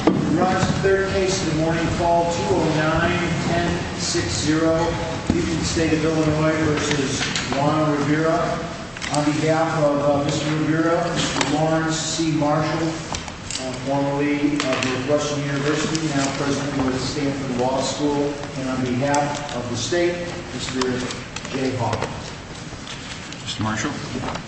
We rise to the third case of the morning, Fall 2009, 10-6-0. This is the State of Illinois v. Juana Rivera. On behalf of Mr. Rivera, Mr. Lawrence C. Marshall, formerly of Northwestern University, now president of the Stanford Law School, and on behalf of the State, Mr. Jay Hawkins. Mr. Marshall.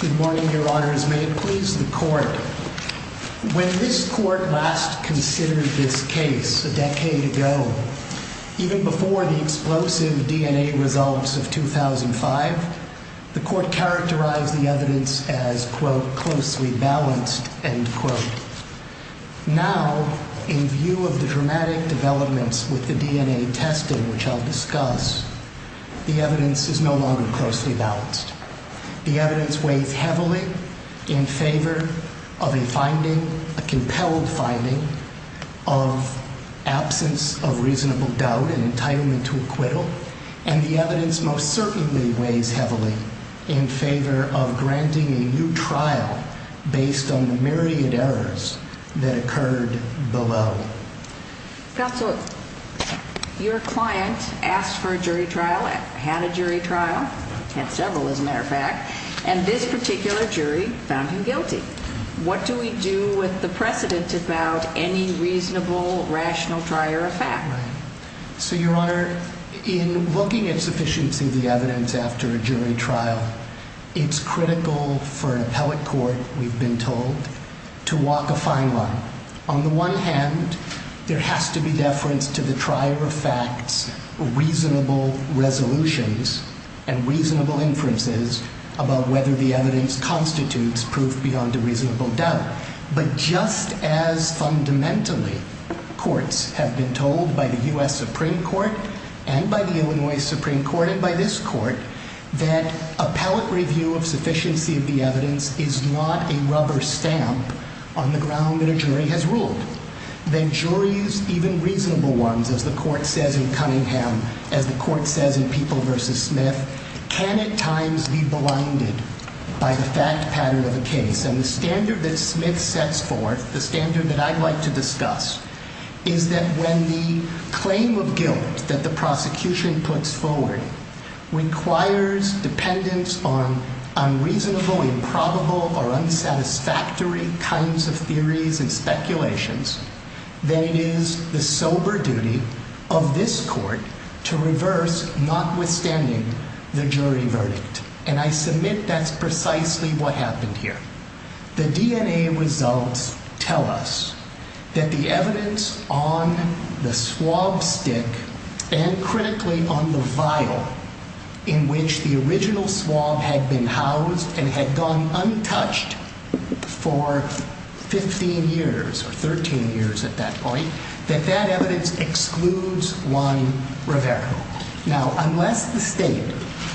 Good morning, your honors. May it please the court. When this court last considered this case a decade ago, even before the explosive DNA results of 2005, the court characterized the evidence as, quote, closely balanced, end quote. Now, in view of the dramatic developments with the DNA testing which I'll discuss, the evidence is no longer closely balanced. The evidence weighs heavily in favor of a finding, a compelled finding, of absence of reasonable doubt and entitlement to acquittal. And the evidence most certainly weighs heavily in favor of granting a new trial based on the myriad errors that occurred below. Counsel, your client asked for a jury trial, had a jury trial, had several as a matter of fact, and this particular jury found him guilty. What do we do with the precedent about any reasonable, rational trial or fact? So, your honor, in looking at sufficiency of the evidence after a jury trial, it's critical for an appellate court, we've been told, to walk a fine line. On the one hand, there has to be deference to the trier of facts, reasonable resolutions, and reasonable inferences about whether the evidence constitutes proof beyond a reasonable doubt. But just as fundamentally, courts have been told by the U.S. Supreme Court and by the Illinois Supreme Court and by this court, that appellate review of sufficiency of the evidence is not a rubber stamp on the ground that a jury has ruled. That juries, even reasonable ones, as the court says in Cunningham, as the court says in People v. Smith, can at times be blinded by the fact pattern of a case. And the standard that Smith sets forth, the standard that I'd like to discuss, is that when the claim of guilt that the prosecution puts forward requires dependence on unreasonable, improbable, or unsatisfactory kinds of theories and speculations, then it is the sober duty of this court to reverse, notwithstanding the jury verdict. And I submit that's precisely what happened here. The DNA results tell us that the evidence on the swab stick, and critically on the vial in which the original swab had been housed and had gone untouched for 15 years, or 13 years at that point, that that evidence excludes Juan Rivera. Now, unless the state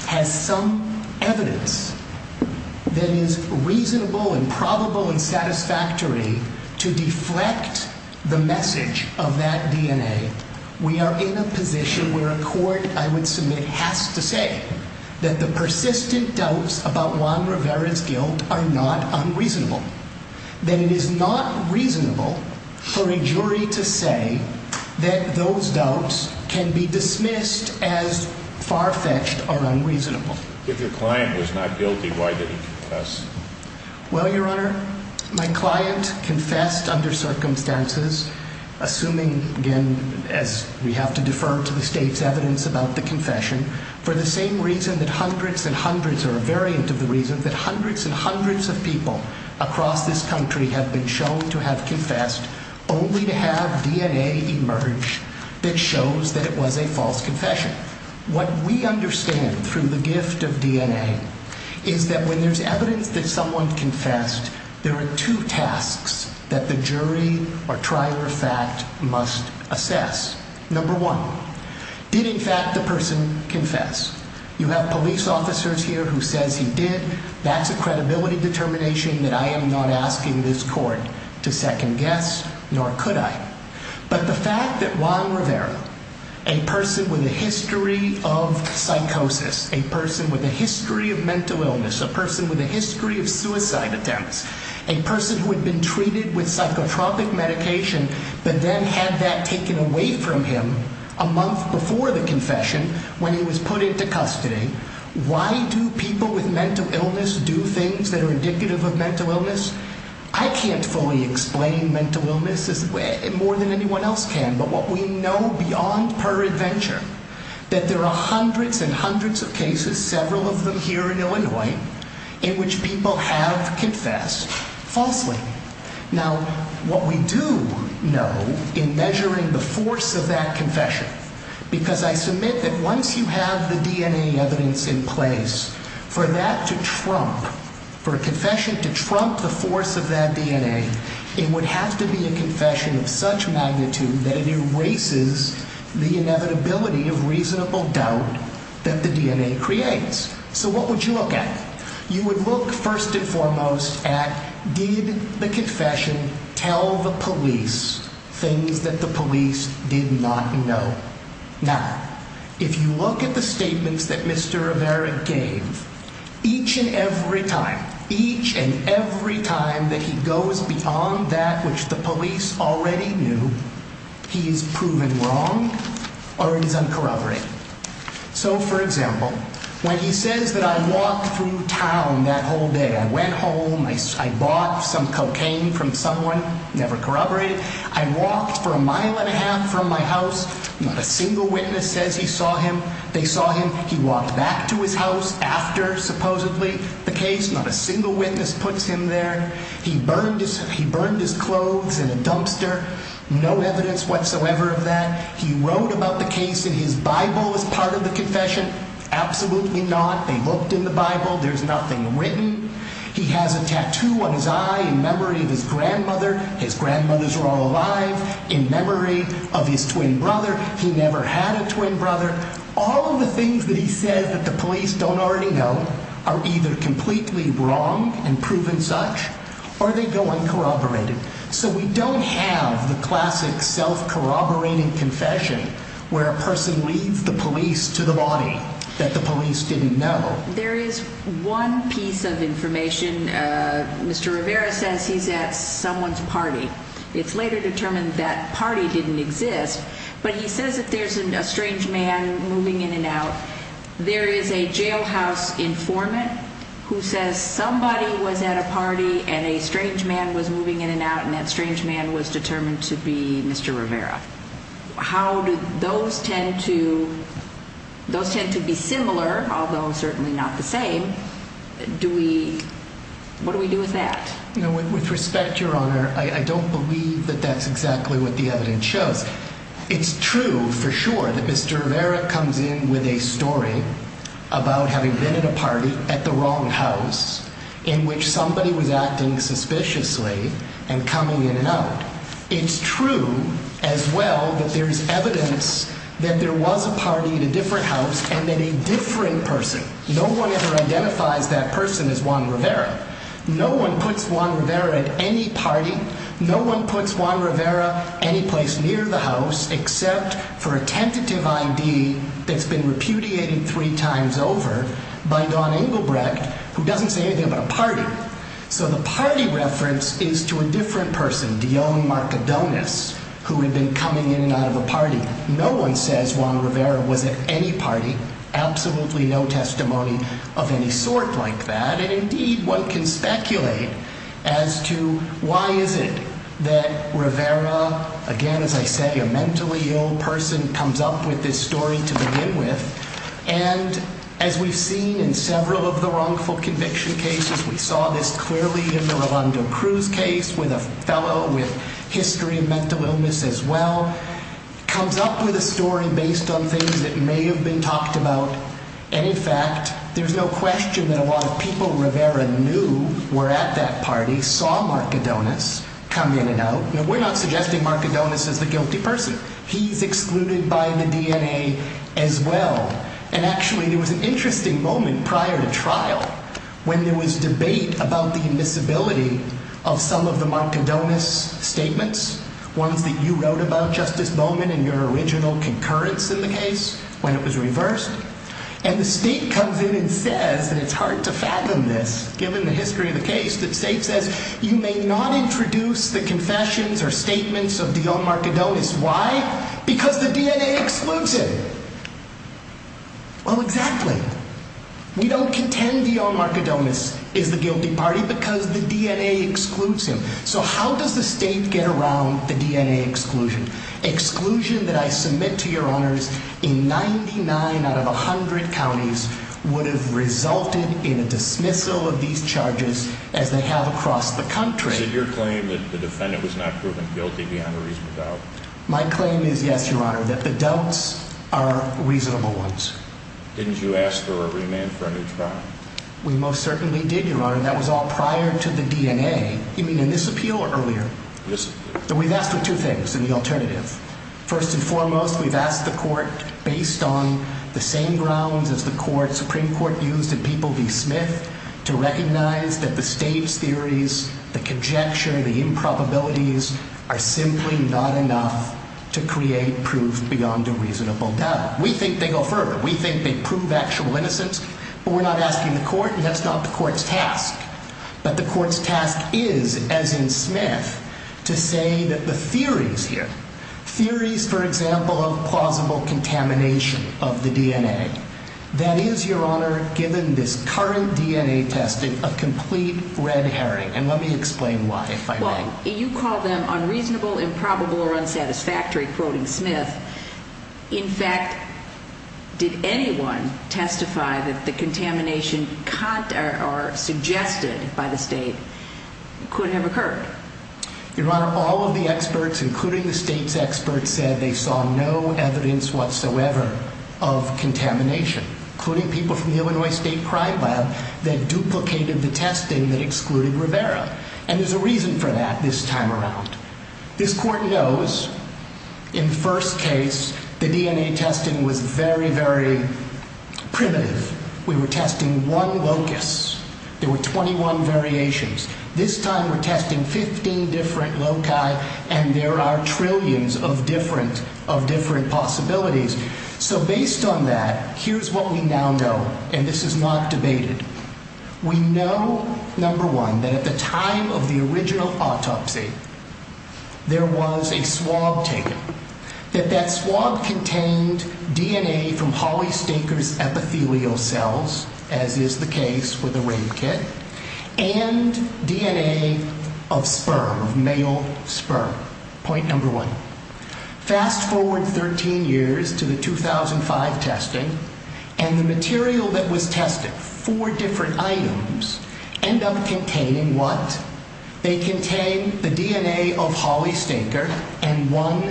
has some evidence that is reasonable and probable and satisfactory to deflect the message of that DNA, we are in a position where a court, I would submit, has to say that the persistent doubts about Juan Rivera's guilt are not unreasonable. Then it is not reasonable for a jury to say that those doubts can be dismissed as far-fetched or unreasonable. If your client was not guilty, why did he confess? Well, Your Honor, my client confessed under circumstances, assuming, again, as we have to defer to the state's evidence about the confession, for the same reason that hundreds and hundreds, or a variant of the reason, that hundreds and hundreds of people across this country have been shown to have confessed only to have DNA emerge that shows that it was a false confession. What we understand through the gift of DNA is that when there's evidence that someone confessed, there are two tasks that the jury or trial or fact must assess. Number one, did in fact the person confess? You have police officers here who says he did. That's a credibility determination that I am not asking this court to second-guess, nor could I. But the fact that Juan Rivera, a person with a history of psychosis, a person with a history of mental illness, a person with a history of suicide attempts, a person who had been treated with psychotropic medication, but then had that taken away from him a month before the confession when he was put into custody, why do people with mental illness do things that are indicative of mental illness? I can't fully explain mental illness more than anyone else can, but what we know beyond peradventure that there are hundreds and hundreds of cases, several of them here in Illinois, in which people have confessed falsely. Now, what we do know in measuring the force of that confession, because I submit that once you have the DNA evidence in place, for that to trump, for a confession to trump the force of that DNA, it would have to be a confession of such magnitude that it erases the inevitability of reasonable doubt that the DNA creates. So what would you look at? You would look first and foremost at did the confession tell the police things that the police did not know? Now, if you look at the statements that Mr. Rivera gave, each and every time, each and every time that he goes beyond that which the police already knew, he is proven wrong or he is uncorroborated. So, for example, when he says that I walked through town that whole day, I went home, I bought some cocaine from someone, never corroborated, I walked for a mile and a half from my house, not a single witness says he saw him, they saw him. He walked back to his house after supposedly the case, not a single witness puts him there. He burned his clothes in a dumpster, no evidence whatsoever of that. He wrote about the case in his Bible as part of the confession, absolutely not. They looked in the Bible, there's nothing written. He has a tattoo on his eye in memory of his grandmother, his grandmothers are all alive, in memory of his twin brother, he never had a twin brother. All of the things that he says that the police don't already know are either completely wrong and proven such or they go uncorroborated. So we don't have the classic self-corroborating confession where a person leads the police to the body that the police didn't know. There is one piece of information, Mr. Rivera says he's at someone's party. It's later determined that party didn't exist, but he says that there's a strange man moving in and out. There is a jailhouse informant who says somebody was at a party and a strange man was moving in and out, and that strange man was determined to be Mr. Rivera. How do those tend to be similar, although certainly not the same? What do we do with that? With respect, Your Honor, I don't believe that that's exactly what the evidence shows. It's true, for sure, that Mr. Rivera comes in with a story about having been at a party at the wrong house, in which somebody was acting suspiciously and coming in and out. It's true, as well, that there's evidence that there was a party at a different house and that a different person, no one ever identifies that person as Juan Rivera. No one puts Juan Rivera at any party. No one puts Juan Rivera any place near the house except for a tentative I.D. that's been repudiated three times over by Don Engelbrecht, who doesn't say anything about a party. So the party reference is to a different person, Dion Marcadones, who had been coming in and out of a party. No one says Juan Rivera was at any party, absolutely no testimony of any sort like that. And indeed, one can speculate as to why is it that Rivera, again, as I say, a mentally ill person, comes up with this story to begin with. And as we've seen in several of the wrongful conviction cases, we saw this clearly in the Rolando Cruz case, with a fellow with history of mental illness, as well, comes up with a story based on things that may have been talked about. And in fact, there's no question that a lot of people Rivera knew were at that party, saw Marcadones come in and out. Now, we're not suggesting Marcadones is the guilty person. He's excluded by the DNA as well. And actually, there was an interesting moment prior to trial when there was debate about the admissibility of some of the Marcadones statements, ones that you wrote about, Justice Bowman, in your original concurrence in the case, when it was reversed. And the state comes in and says, and it's hard to fathom this, given the history of the case, that the state says you may not introduce the confessions or statements of Dion Marcadones. Why? Because the DNA excludes him. Well, exactly. We don't contend Dion Marcadones is the guilty party because the DNA excludes him. So how does the state get around the DNA exclusion? Exclusion that I submit to your honors in 99 out of 100 counties would have resulted in a dismissal of these charges as they have across the country. Is it your claim that the defendant was not proven guilty beyond a reasonable doubt? My claim is yes, your honor, that the doubts are reasonable ones. Didn't you ask for a remand for a new trial? We most certainly did, your honor. That was all prior to the DNA. You mean in this appeal or earlier? In this appeal. We've asked for two things in the alternative. First and foremost, we've asked the court, based on the same grounds as the Supreme Court used in People v. Smith, to recognize that the state's theories, the conjecture, the improbabilities, are simply not enough to create proof beyond a reasonable doubt. We think they go further. We think they prove actual innocence. But we're not asking the court, and that's not the court's task. But the court's task is, as in Smith, to say that the theories here, theories, for example, of plausible contamination of the DNA, that is, your honor, given this current DNA testing, a complete red herring. And let me explain why, if I may. Well, you call them unreasonable, improbable, or unsatisfactory, quoting Smith. In fact, did anyone testify that the contamination suggested by the state could have occurred? Your honor, all of the experts, including the state's experts, said they saw no evidence whatsoever of contamination, including people from the Illinois State Crime Lab that duplicated the testing that excluded Rivera. And there's a reason for that this time around. This court knows, in the first case, the DNA testing was very, very primitive. We were testing one locus. There were 21 variations. This time, we're testing 15 different loci, and there are trillions of different possibilities. So based on that, here's what we now know, and this is not debated. We know, number one, that at the time of the original autopsy, there was a swab taken, that that swab contained DNA from Holly Staker's epithelial cells, as is the case with the rape kit, and DNA of sperm, of male sperm. Point number one. Fast forward 13 years to the 2005 testing, and the material that was tested, four different items, end up containing what? They contain the DNA of Holly Staker and one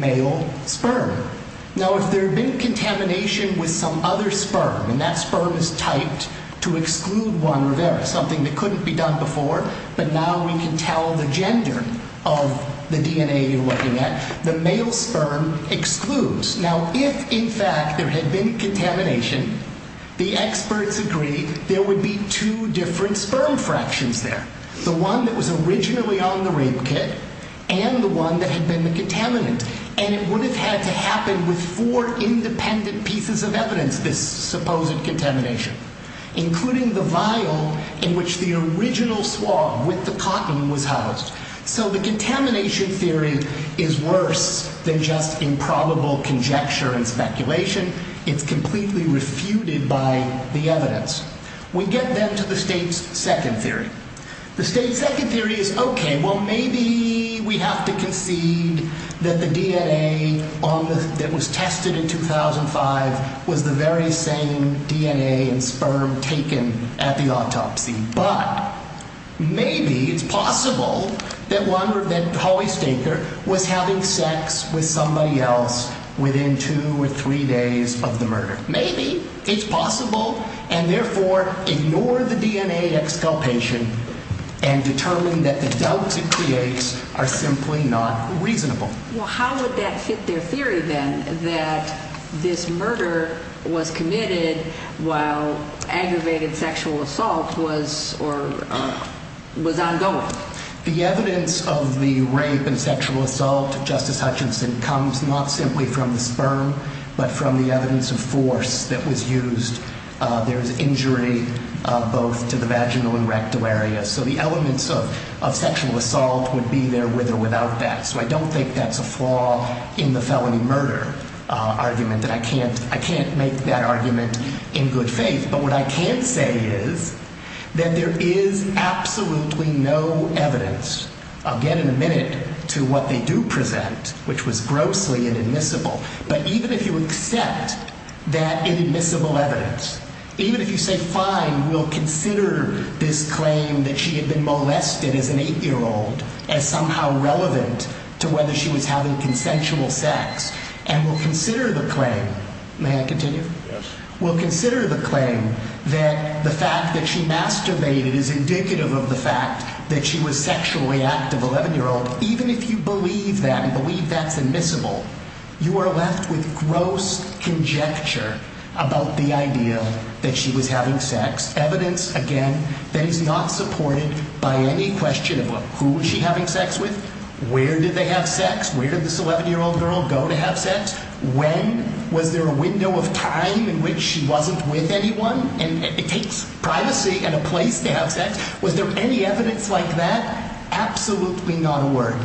male sperm. Now, if there had been contamination with some other sperm, and that sperm is typed to exclude one Rivera, something that couldn't be done before, but now we can tell the gender of the DNA you're looking at, the male sperm excludes. Now, if, in fact, there had been contamination, the experts agreed there would be two different sperm fractions there, the one that was originally on the rape kit and the one that had been the contaminant, and it would have had to happen with four independent pieces of evidence, this supposed contamination, including the vial in which the original swab with the cotton was housed. So the contamination theory is worse than just improbable conjecture and speculation. It's completely refuted by the evidence. We get then to the state's second theory. The state's second theory is, okay, well, maybe we have to concede that the DNA that was tested in 2005 was the very same DNA and sperm taken at the autopsy. But maybe it's possible that Holly Staker was having sex with somebody else within two or three days of the murder. Maybe it's possible, and therefore ignore the DNA excalpation and determine that the doubts it creates are simply not reasonable. Well, how would that fit their theory, then, that this murder was committed while aggravated sexual assault was ongoing? The evidence of the rape and sexual assault, Justice Hutchinson, comes not simply from the sperm, but from the evidence of force that was used. There was injury both to the vaginal and rectal area. So the elements of sexual assault would be there with or without that. So I don't think that's a flaw in the felony murder argument, and I can't make that argument in good faith. But what I can say is that there is absolutely no evidence, again, in a minute, to what they do present, which was grossly inadmissible. But even if you accept that inadmissible evidence, even if you say, fine, we'll consider this claim that she had been molested as an 8-year-old as somehow relevant to whether she was having consensual sex, and we'll consider the claim – may I continue? Yes. We'll consider the claim that the fact that she masturbated is indicative of the fact that she was sexually active, 11-year-old. Even if you believe that and believe that's admissible, you are left with gross conjecture about the idea that she was having sex. Evidence, again, that is not supported by any question of, well, who was she having sex with? Where did they have sex? Where did this 11-year-old girl go to have sex? When? Was there a window of time in which she wasn't with anyone? And it takes privacy and a place to have sex. Was there any evidence like that? Absolutely not a word.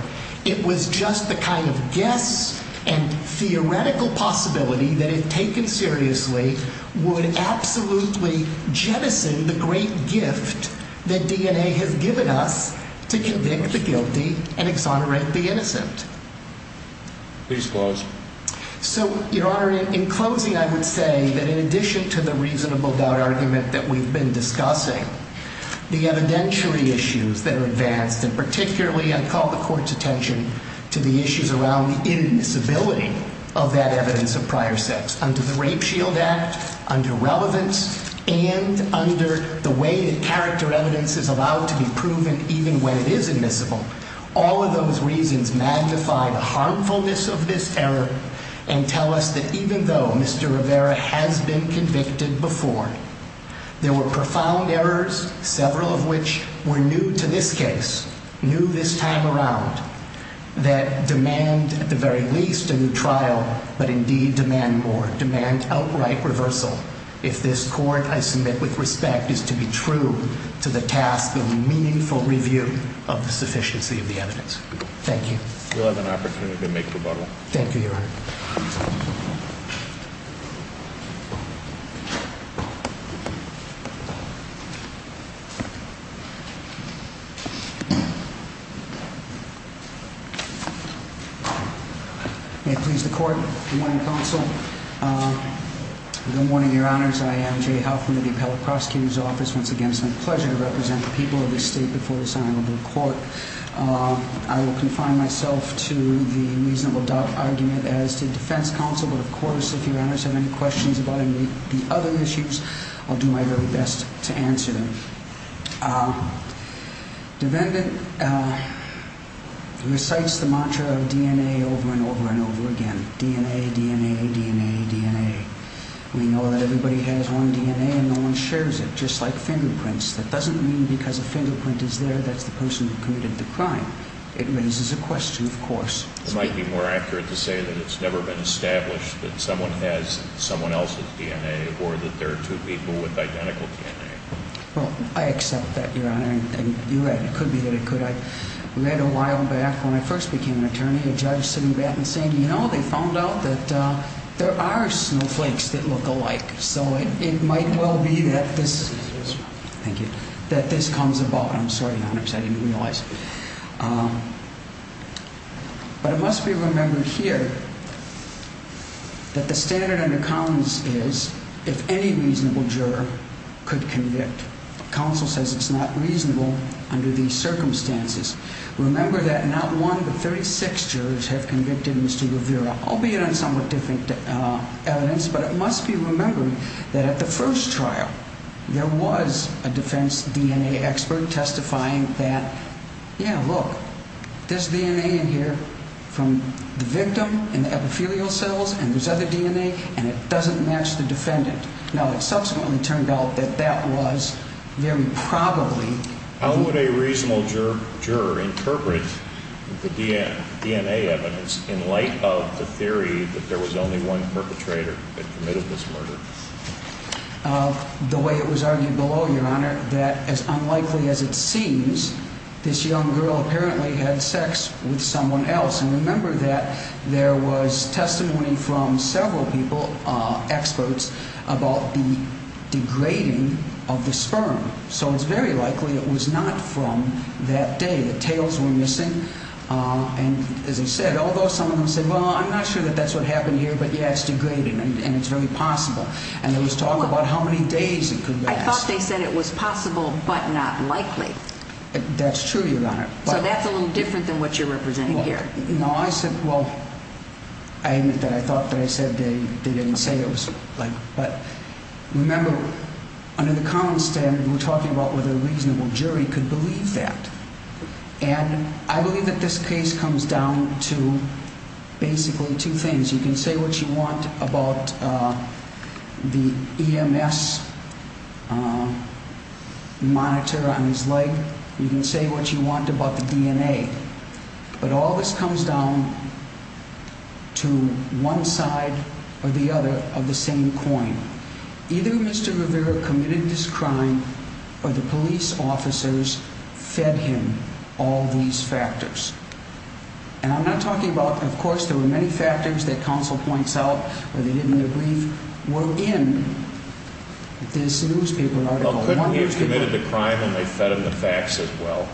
It was just the kind of guess and theoretical possibility that, if taken seriously, would absolutely jettison the great gift that DNA has given us to convict the guilty and exonerate the innocent. Please close. So, Your Honor, in closing, I would say that in addition to the reasonable doubt argument that we've been discussing, the evidentiary issues that are advanced, and particularly I call the Court's attention to the issues around the immiscibility of that evidence of prior sex. Under the Rape Shield Act, under relevance, and under the way that character evidence is allowed to be proven even when it is admissible, all of those reasons magnify the harmfulness of this error and tell us that even though Mr. Rivera has been convicted before, there were profound errors, several of which were new to this case, new this time around, that demand, at the very least, a new trial, but indeed demand more, demand outright reversal, if this Court, I submit with respect, is to be true to the task of meaningful review of the sufficiency of the evidence. Thank you. We'll have an opportunity to make rebuttal. Thank you, Your Honor. May it please the Court. Good morning, Counsel. Good morning, Your Honors. I am Jay Huffman of the Appellate Prosecutor's Office. Once again, it's my pleasure to represent the people of this State before this Honorable Court. I will confine myself to the reasonable doubt argument as to Defense Counsel, but of course, if Your Honors have any questions about any of the other issues, I'll do my very best to answer them. Defendant recites the mantra of DNA over and over and over again, DNA, DNA, DNA, DNA. We know that everybody has one DNA and no one shares it, just like fingerprints. That doesn't mean because a fingerprint is there, that's the person who committed the crime. It raises a question, of course. It might be more accurate to say that it's never been established that someone has someone else's DNA or that there are two people with identical DNA. Well, I accept that, Your Honor, and you're right. It could be that it could. I read a while back when I first became an attorney, a judge sitting back and saying, you know, they found out that there are snowflakes that look alike. So it might well be that this comes about. I'm sorry, Your Honors, I didn't realize. But it must be remembered here that the standard under Collins is if any reasonable juror could convict, counsel says it's not reasonable under these circumstances. Remember that not one but 36 jurors have convicted Mr. Rivera, albeit on somewhat different evidence, but it must be remembered that at the first trial, there was a defense DNA expert testifying that, yeah, look, there's DNA in here from the victim and the epithelial cells and there's other DNA and it doesn't match the defendant. Now, it subsequently turned out that that was very probably. How would a reasonable juror interpret the DNA evidence in light of the theory that there was only one perpetrator that committed this murder? The way it was argued below, Your Honor, that as unlikely as it seems, this young girl apparently had sex with someone else. And remember that there was testimony from several people, experts, about the degrading of the sperm. So it's very likely it was not from that day. The tails were missing and, as I said, although some of them said, well, I'm not sure that that's what happened here, but, yeah, it's degraded and it's very possible. And there was talk about how many days it could last. I thought they said it was possible but not likely. That's true, Your Honor. So that's a little different than what you're representing here. No, I said, well, I admit that I thought that I said they didn't say it was like, But remember, under the common standard, we're talking about whether a reasonable jury could believe that. And I believe that this case comes down to basically two things. You can say what you want about the EMS monitor on his leg. You can say what you want about the DNA. But all this comes down to one side or the other of the same coin. Either Mr. Rivera committed this crime or the police officers fed him all these factors. And I'm not talking about, of course, there were many factors that counsel points out or they didn't in their brief, were in this newspaper article. Well, couldn't he have committed the crime when they fed him the facts as well?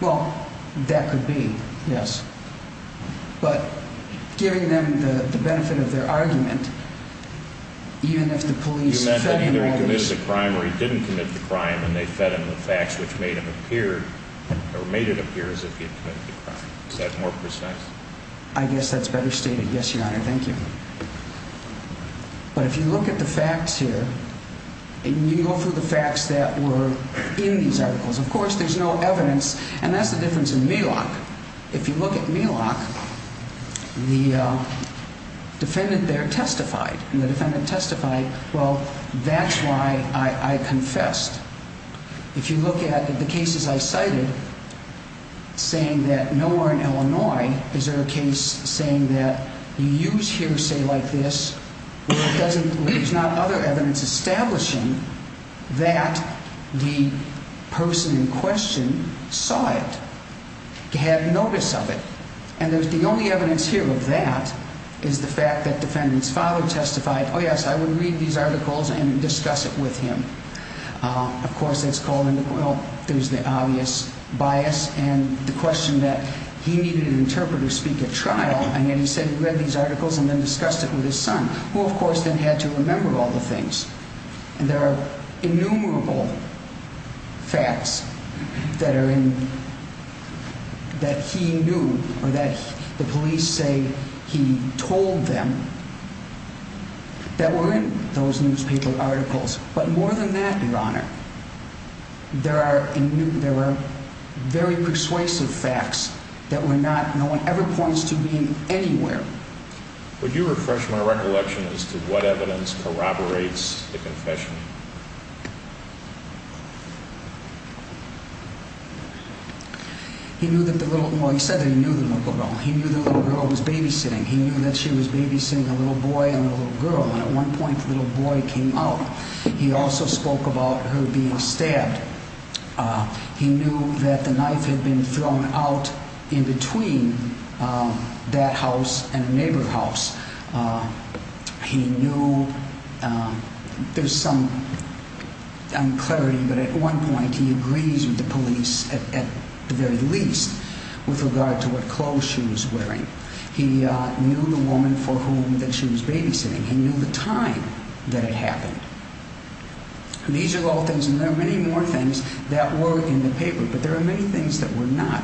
Well, that could be, yes. But giving them the benefit of their argument, even if the police fed him all this. You meant that either he committed the crime or he didn't commit the crime and they fed him the facts which made him appear or made it appear as if he had committed the crime. Is that more precise? I guess that's better stated. Yes, Your Honor. Thank you. But if you look at the facts here and you go through the facts that were in these articles, of course, there's no evidence, and that's the difference in Milok. If you look at Milok, the defendant there testified, and the defendant testified, well, that's why I confessed. If you look at the cases I cited saying that nowhere in Illinois is there a case saying that you use hearsay like this where there's not other evidence establishing that the person in question saw it, had notice of it. And the only evidence here of that is the fact that the defendant's father testified, oh, yes, I would read these articles and discuss it with him. Of course, that's called, well, there's the obvious bias and the question that he needed an interpreter to speak at trial, and yet he said he read these articles and then discussed it with his son. Well, of course, then he had to remember all the things. And there are innumerable facts that he knew or that the police say he told them that were in those newspaper articles. But more than that, Your Honor, there are very persuasive facts that no one ever points to being anywhere. Would you refresh my recollection as to what evidence corroborates the confession? He knew that the little boy, he said that he knew the little girl. He knew the little girl was babysitting. He knew that she was babysitting a little boy and a little girl. And at one point, the little boy came out. He also spoke about her being stabbed. He knew that the knife had been thrown out in between that house and a neighbor's house. He knew there's some unclarity, but at one point he agrees with the police at the very least with regard to what clothes she was wearing. He knew the woman for whom she was babysitting. He knew the time that it happened. These are all things, and there are many more things that were in the paper, but there are many things that were not.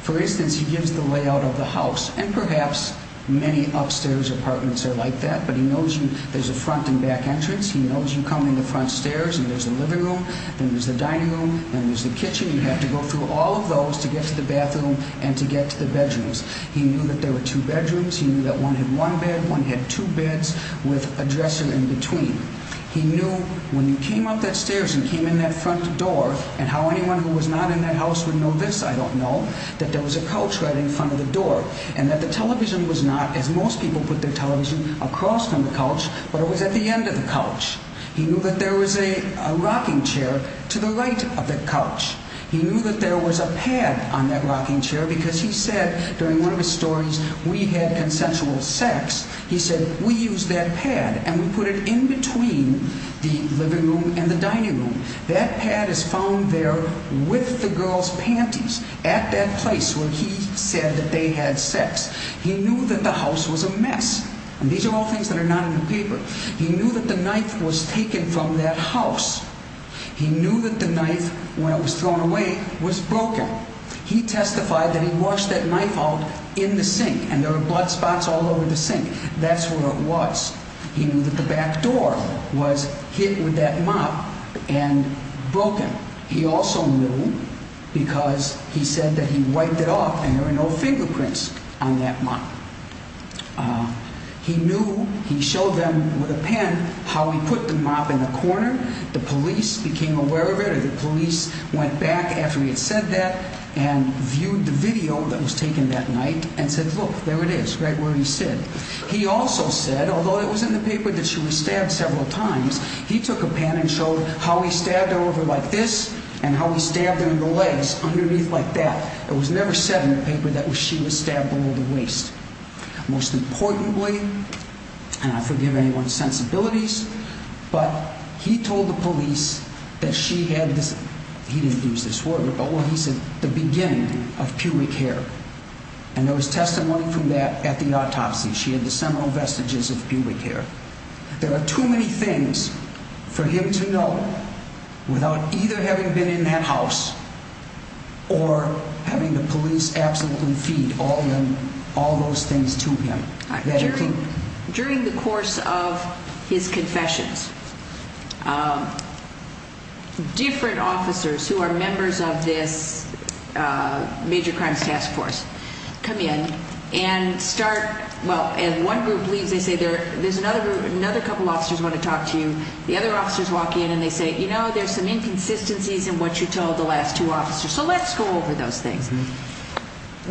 For instance, he gives the layout of the house, and perhaps many upstairs apartments are like that, but he knows you. There's a front and back entrance. He knows you come in the front stairs, and there's the living room. Then there's the dining room. Then there's the kitchen. You have to go through all of those to get to the bathroom and to get to the bedrooms. He knew that there were two bedrooms. He knew that one had one bed. One had two beds with a dresser in between. He knew when you came up that stairs and came in that front door, and how anyone who was not in that house would know this, I don't know, that there was a couch right in front of the door, and that the television was not, as most people put their television across from the couch, but it was at the end of the couch. He knew that there was a rocking chair to the right of the couch. He knew that there was a pad on that rocking chair because he said during one of his stories, we had consensual sex. He said, we used that pad, and we put it in between the living room and the dining room. That pad is found there with the girl's panties at that place where he said that they had sex. He knew that the house was a mess, and these are all things that are not in the paper. He knew that the knife was taken from that house. He knew that the knife, when it was thrown away, was broken. He testified that he washed that knife out in the sink, and there were blood spots all over the sink. That's where it was. He knew that the back door was hit with that mop and broken. He also knew because he said that he wiped it off, and there were no fingerprints on that mop. He knew, he showed them with a pen how he put the mop in the corner. The police became aware of it, or the police went back after he had said that, and viewed the video that was taken that night, and said, look, there it is, right where he said. He also said, although it was in the paper that she was stabbed several times, he took a pen and showed how he stabbed her over like this, and how he stabbed her in the legs underneath like that. It was never said in the paper that she was stabbed below the waist. Most importantly, and I forgive anyone's sensibilities, but he told the police that she had this, he didn't use this word, but he said the beginning of pubic hair, and there was testimony from that at the autopsy. She had the seminal vestiges of pubic hair. There are too many things for him to know without either having been in that house or having the police absolutely feed all those things to him. During the course of his confessions, different officers who are members of this major crimes task force come in and start, well, and one group leaves, they say, there's another group, another couple officers want to talk to you. The other officers walk in and they say, you know, there's some inconsistencies in what you told the last two officers, so let's go over those things.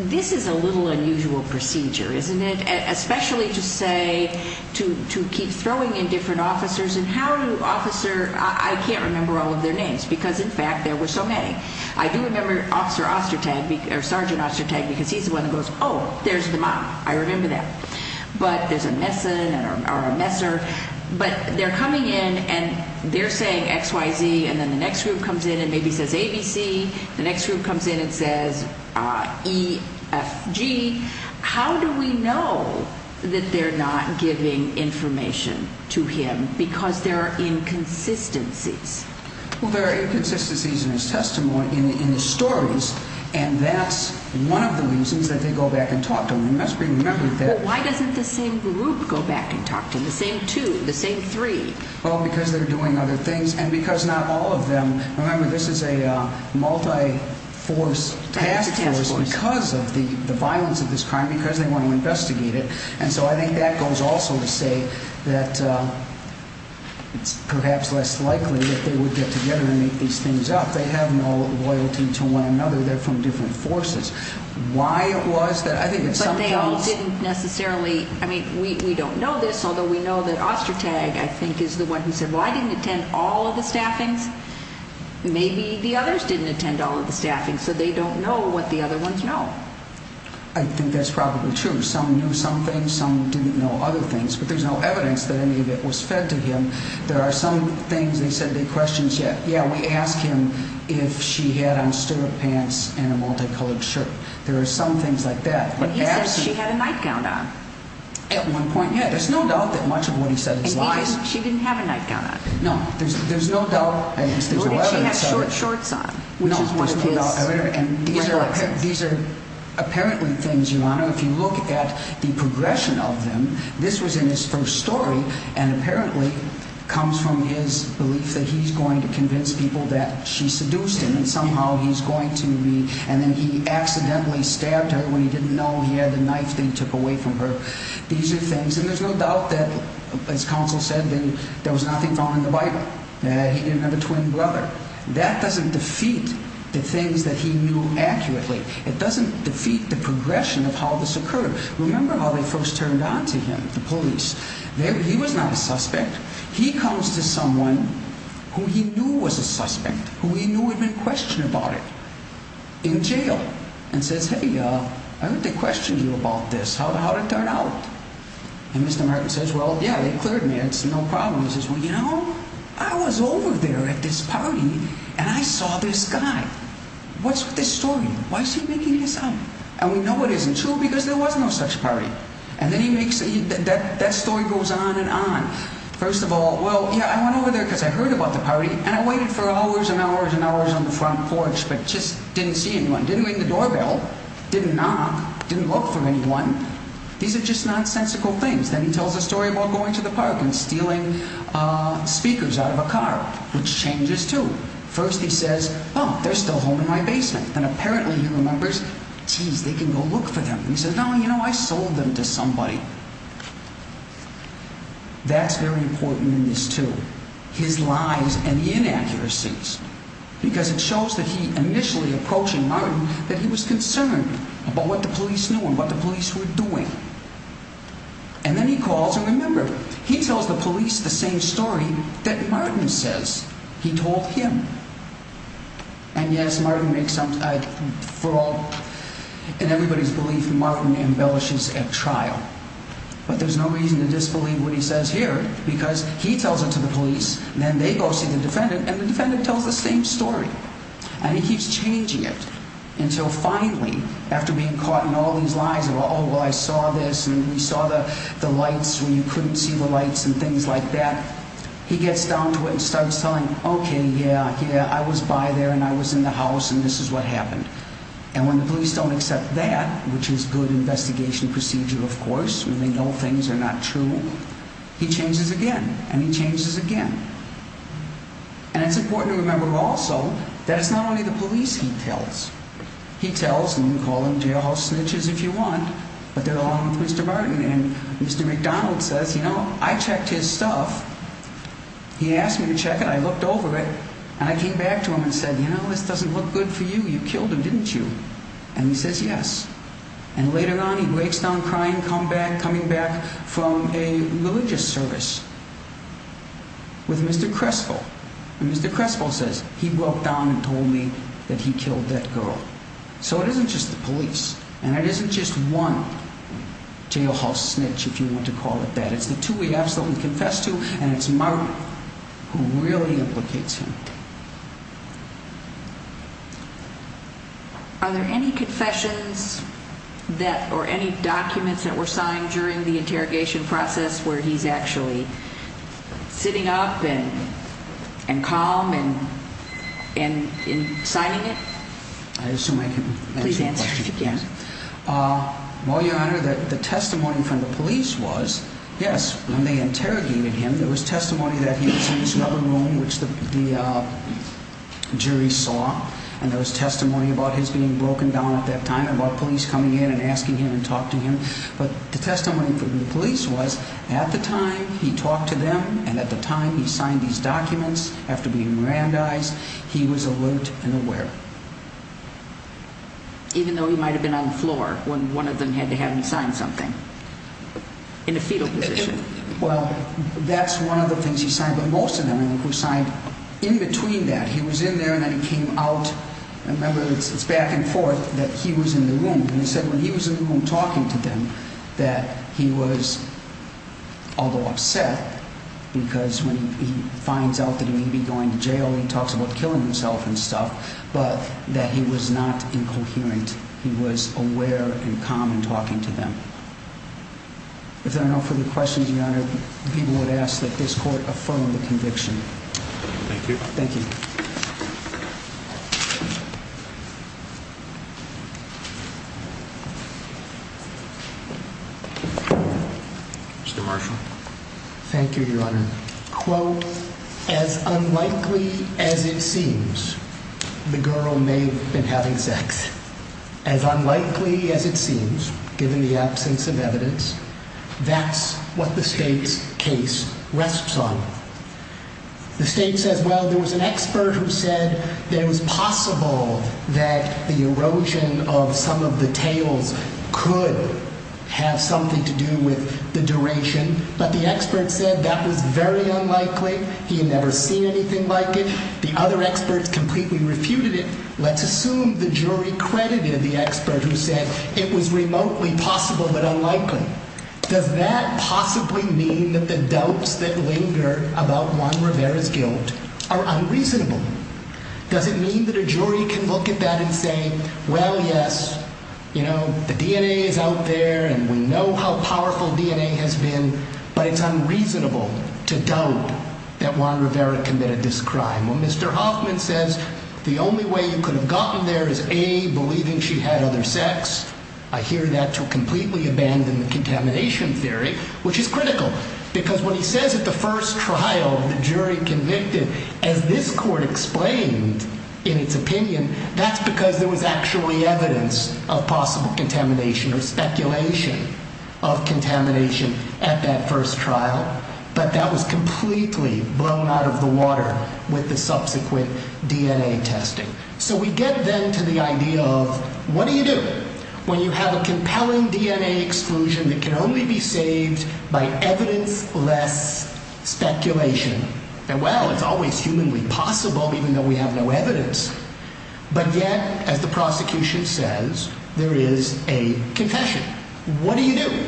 This is a little unusual procedure, isn't it? Especially to say, to keep throwing in different officers, and how do officers, I can't remember all of their names because, in fact, there were so many. I do remember Officer Ostertag, or Sergeant Ostertag, because he's the one who goes, oh, there's the mob. I remember that. But there's a messer, but they're coming in and they're saying X, Y, Z, and then the next group comes in and maybe says A, B, C. The next group comes in and says E, F, G. How do we know that they're not giving information to him because there are inconsistencies? Well, there are inconsistencies in his testimony, in his stories, and that's one of the reasons that they go back and talk to him. Why doesn't the same group go back and talk to him, the same two, the same three? Well, because they're doing other things, and because not all of them. Remember, this is a multi-task force because of the violence of this crime, because they want to investigate it. And so I think that goes also to say that it's perhaps less likely that they would get together and make these things up. They have no loyalty to one another. They're from different forces. Why it was that I think it's something else. But they all didn't necessarily, I mean, we don't know this, although we know that Ostertag, I think, is the one who said, well, I didn't attend all of the staffings. Maybe the others didn't attend all of the staffings, so they don't know what the other ones know. I think that's probably true. Some knew some things, some didn't know other things, but there's no evidence that any of it was fed to him. There are some things they said they questioned. Yeah, we asked him if she had on stirrup pants and a multicolored shirt. There are some things like that. He said she had a nightgown on. At one point, yeah. There's no doubt that much of what he said is lies. She didn't have a nightgown on. No, there's no doubt. She had short shorts on. No, there's no doubt. These are apparently things, Your Honor. If you look at the progression of them, this was in his first story, and apparently comes from his belief that he's going to convince people that she seduced him and somehow he's going to be, and then he accidentally stabbed her when he didn't know he had the knife they took away from her. These are things, and there's no doubt that, as counsel said, there was nothing found in the Bible. He didn't have a twin brother. That doesn't defeat the things that he knew accurately. It doesn't defeat the progression of how this occurred. Remember how they first turned on to him, the police. He was not a suspect. He comes to someone who he knew was a suspect, who he knew had been questioned about it, in jail, and says, hey, I want to question you about this, how did it turn out? And Mr. Martin says, well, yeah, they cleared me. It's no problem. He says, well, you know, I was over there at this party, and I saw this guy. What's with this story? Why is he making this up? And we know it isn't true because there was no such party. And then he makes, that story goes on and on. First of all, well, yeah, I went over there because I heard about the party, and I waited for hours and hours and hours on the front porch but just didn't see anyone, didn't ring the doorbell, didn't knock, didn't look for anyone. These are just nonsensical things. Then he tells a story about going to the park and stealing speakers out of a car, which changes too. First he says, oh, they're still home in my basement. Then apparently he remembers, geez, they can go look for them. He says, no, you know, I sold them to somebody. That's very important in this too, his lies and the inaccuracies, because it shows that he initially approaching Martin that he was concerned about what the police knew and what the police were doing. And then he calls, and remember, he tells the police the same story that Martin says he told him. And yes, Martin makes some, for all, in everybody's belief, Martin embellishes a trial. But there's no reason to disbelieve what he says here, because he tells it to the police, and then they go see the defendant, and the defendant tells the same story. And he keeps changing it until finally, after being caught in all these lies of, oh, well, I saw this, and we saw the lights where you couldn't see the lights and things like that, he gets down to it and starts telling, okay, yeah, yeah, I was by there, and I was in the house, and this is what happened. And when the police don't accept that, which is good investigation procedure, of course, when they know things are not true, he changes again, and he changes again. And it's important to remember also that it's not only the police he tells. He tells, and we call them jailhouse snitches if you want, but they're along with Mr. Martin. And Mr. McDonald says, you know, I checked his stuff. He asked me to check it. I looked over it, and I came back to him and said, you know, this doesn't look good for you. You killed him, didn't you? And he says, yes. And later on, he breaks down crying, coming back from a religious service with Mr. Crespo. And Mr. Crespo says, he walked down and told me that he killed that girl. So it isn't just the police, and it isn't just one jailhouse snitch, if you want to call it that. It's the two we absolutely confess to, and it's Martin who really implicates him. Are there any confessions or any documents that were signed during the interrogation process where he's actually sitting up and calm and signing it? I assume I can answer the question if you can. Well, Your Honor, the testimony from the police was, yes, when they interrogated him, there was testimony that he was in this rubber room, which the jury saw, and there was testimony about his being broken down at that time, about police coming in and asking him to talk to him. But the testimony from the police was, at the time he talked to them, and at the time he signed these documents after being Mirandized, he was alert and aware. Even though he might have been on the floor when one of them had to have him sign something, in a fetal position? Well, that's one of the things he signed, but most of them he signed in between that. He was in there, and then he came out. Remember, it's back and forth that he was in the room. And he said when he was in the room talking to them that he was, although upset, because when he finds out that he may be going to jail, he talks about killing himself and stuff, but that he was not incoherent. He was aware and calm in talking to them. If there are no further questions, Your Honor, people would ask that this court affirm the conviction. Thank you. Thank you. Mr. Marshall. Thank you, Your Honor. Quote, as unlikely as it seems, the girl may have been having sex. As unlikely as it seems, given the absence of evidence, that's what the state's case rests on. The state says, well, there was an expert who said that it was possible that the erosion of some of the tests and the tails could have something to do with the duration. But the expert said that was very unlikely. He had never seen anything like it. The other experts completely refuted it. Let's assume the jury credited the expert who said it was remotely possible but unlikely. Does that possibly mean that the doubts that linger about Juan Rivera's guilt are unreasonable? Does it mean that a jury can look at that and say, well, yes, you know, the DNA is out there and we know how powerful DNA has been, but it's unreasonable to doubt that Juan Rivera committed this crime. Well, Mr. Hoffman says the only way you could have gotten there is A, believing she had other sex. I hear that to completely abandon the contamination theory, which is critical. Because when he says at the first trial the jury convicted, as this court explained in its opinion, that's because there was actually evidence of possible contamination or speculation of contamination at that first trial. But that was completely blown out of the water with the subsequent DNA testing. So we get then to the idea of what do you do when you have a compelling DNA exclusion that can only be saved by evidence-less speculation? And, well, it's always humanly possible even though we have no evidence. But yet, as the prosecution says, there is a confession. What do you do?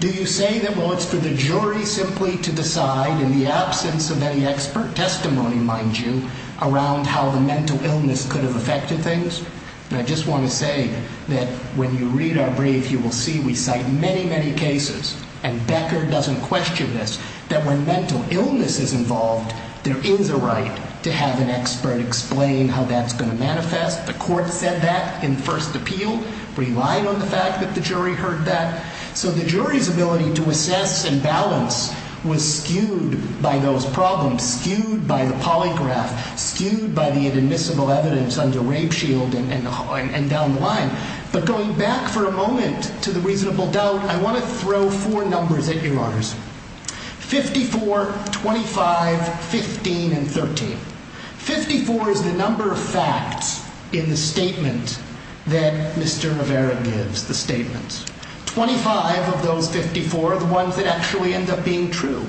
Do you say that, well, it's for the jury simply to decide in the absence of any expert testimony, mind you, around how the mental illness could have affected things? And I just want to say that when you read our brief, you will see we cite many, many cases, and Becker doesn't question this, that when mental illness is involved, there is a right to have an expert explain how that's going to manifest. The court said that in first appeal, relied on the fact that the jury heard that. So the jury's ability to assess and balance was skewed by those problems, skewed by the polygraph, skewed by the inadmissible evidence under rape shield and down the line. But going back for a moment to the reasonable doubt, I want to throw four numbers at you, Your Honors. 54, 25, 15, and 13. Fifty-four is the number of facts in the statement that Mr. Rivera gives, the statement. Twenty-five of those 54 are the ones that actually end up being true.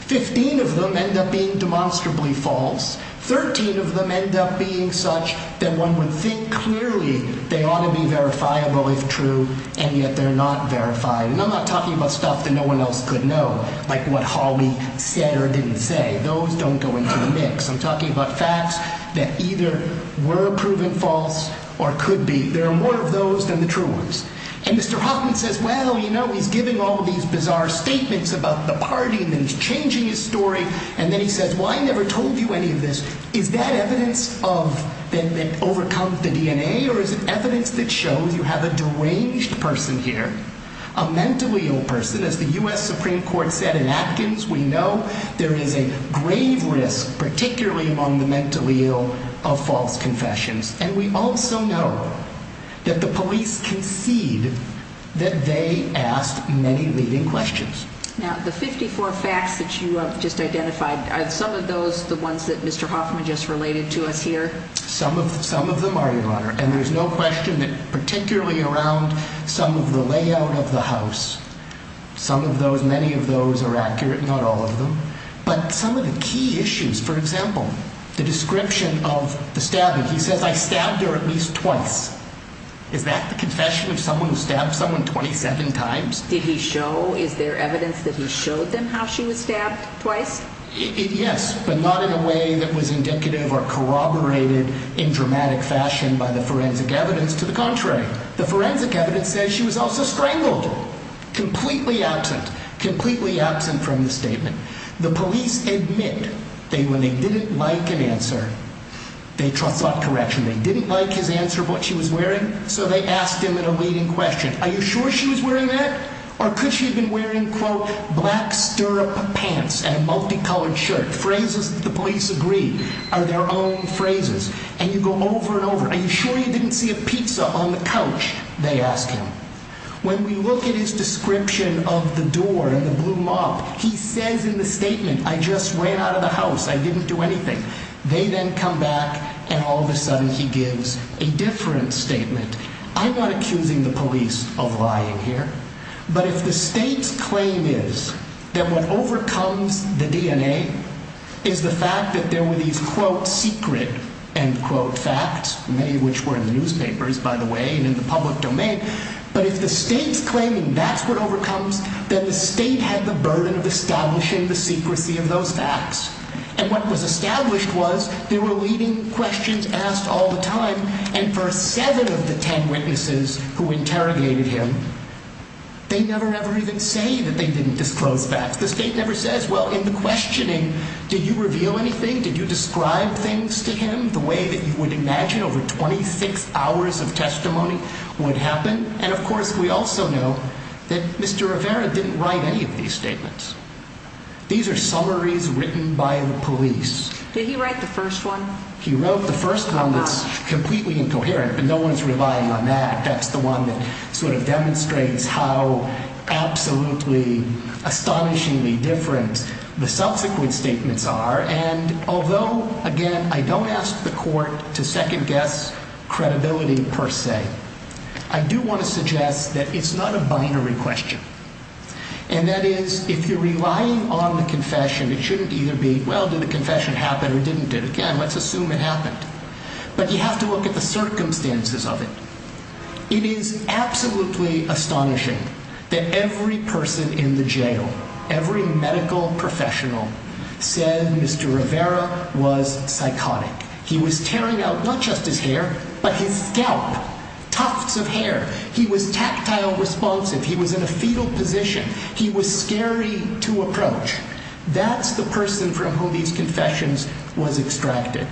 Fifteen of them end up being demonstrably false. Thirteen of them end up being such that one would think clearly they ought to be verifiable if true, and yet they're not verified. And I'm not talking about stuff that no one else could know, like what Hawley said or didn't say. Those don't go into the mix. I'm talking about facts that either were proven false or could be. There are more of those than the true ones. And Mr. Hoffman says, well, you know, he's giving all these bizarre statements about the party, and then he's changing his story, and then he says, well, I never told you any of this. Is that evidence that overcomes the DNA, or is it evidence that shows you have a deranged person here, a mentally ill person? As the U.S. Supreme Court said in Atkins, we know there is a grave risk, particularly among the mentally ill, of false confessions. And we also know that the police concede that they asked many leading questions. Now, the 54 facts that you just identified, are some of those the ones that Mr. Hoffman just related to us here? Some of them are, Your Honor. And there's no question that particularly around some of the layout of the house, some of those, many of those are accurate, not all of them. But some of the key issues, for example, the description of the stabbing. He says, I stabbed her at least twice. Is that the confession of someone who stabbed someone 27 times? Did he show, is there evidence that he showed them how she was stabbed twice? Yes, but not in a way that was indicative or corroborated in dramatic fashion by the forensic evidence. To the contrary, the forensic evidence says she was also strangled. Completely absent, completely absent from the statement. The police admit that when they didn't like an answer, they sought correction. They didn't like his answer of what she was wearing, so they asked him in a leading question, are you sure she was wearing that? Or could she have been wearing, quote, black stirrup pants and a multicolored shirt? Phrases that the police agree are their own phrases. And you go over and over, are you sure you didn't see a pizza on the couch, they ask him. When we look at his description of the door and the blue mop, he says in the statement, I just ran out of the house, I didn't do anything. They then come back and all of a sudden he gives a different statement. I'm not accusing the police of lying here, but if the state's claim is that what overcomes the DNA is the fact that there were these, quote, secret, end quote, facts, many of which were in the newspapers, by the way, and in the public domain, but if the state's claiming that's what overcomes, then the state had the burden of establishing the secrecy of those facts. And what was established was there were leading questions asked all the time, and for seven of the ten witnesses who interrogated him, they never ever even say that they didn't disclose facts. The state never says, well, in the questioning, did you reveal anything? Did you describe things to him the way that you would imagine over 26 hours of testimony would happen? And, of course, we also know that Mr. Rivera didn't write any of these statements. These are summaries written by the police. Did he write the first one? He wrote the first one that's completely incoherent, but no one's relying on that. That's the one that sort of demonstrates how absolutely astonishingly different the subsequent statements are, and although, again, I don't ask the court to second-guess credibility per se, I do want to suggest that it's not a binary question, and that is if you're relying on the confession, it shouldn't either be, well, did the confession happen or didn't it? Again, let's assume it happened. But you have to look at the circumstances of it. It is absolutely astonishing that every person in the jail, every medical professional, said Mr. Rivera was psychotic. He was tearing out not just his hair, but his scalp, tufts of hair. He was tactile responsive. He was in a fetal position. He was scary to approach. That's the person from whom these confessions was extracted.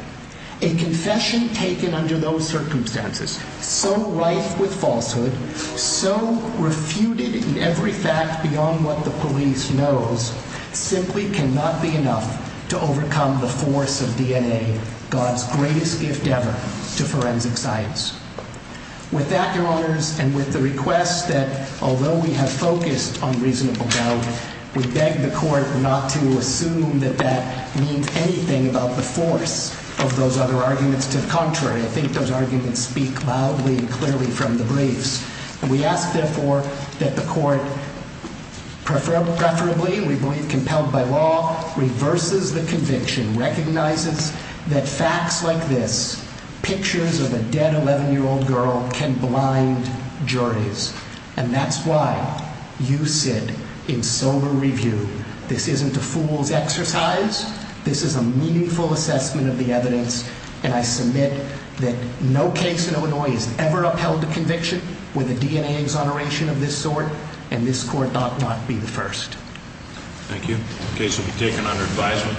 A confession taken under those circumstances, so rife with falsehood, so refuted in every fact beyond what the police knows, simply cannot be enough to overcome the force of DNA, God's greatest gift ever to forensic science. With that, Your Honors, and with the request that, although we have focused on reasonable doubt, we beg the court not to assume that that means anything about the force of those other arguments. To the contrary, I think those arguments speak loudly and clearly from the briefs. And we ask, therefore, that the court, preferably, we believe, compelled by law, reverses the conviction, recognizes that facts like this, pictures of a dead 11-year-old girl, can blind juries. And that's why you, Sid, in sober review, this isn't a fool's exercise. This is a meaningful assessment of the evidence. And I submit that no case in Illinois has ever upheld a conviction with a DNA exoneration of this sort. And this court ought not be the first. Thank you. The case will be taken under advisement.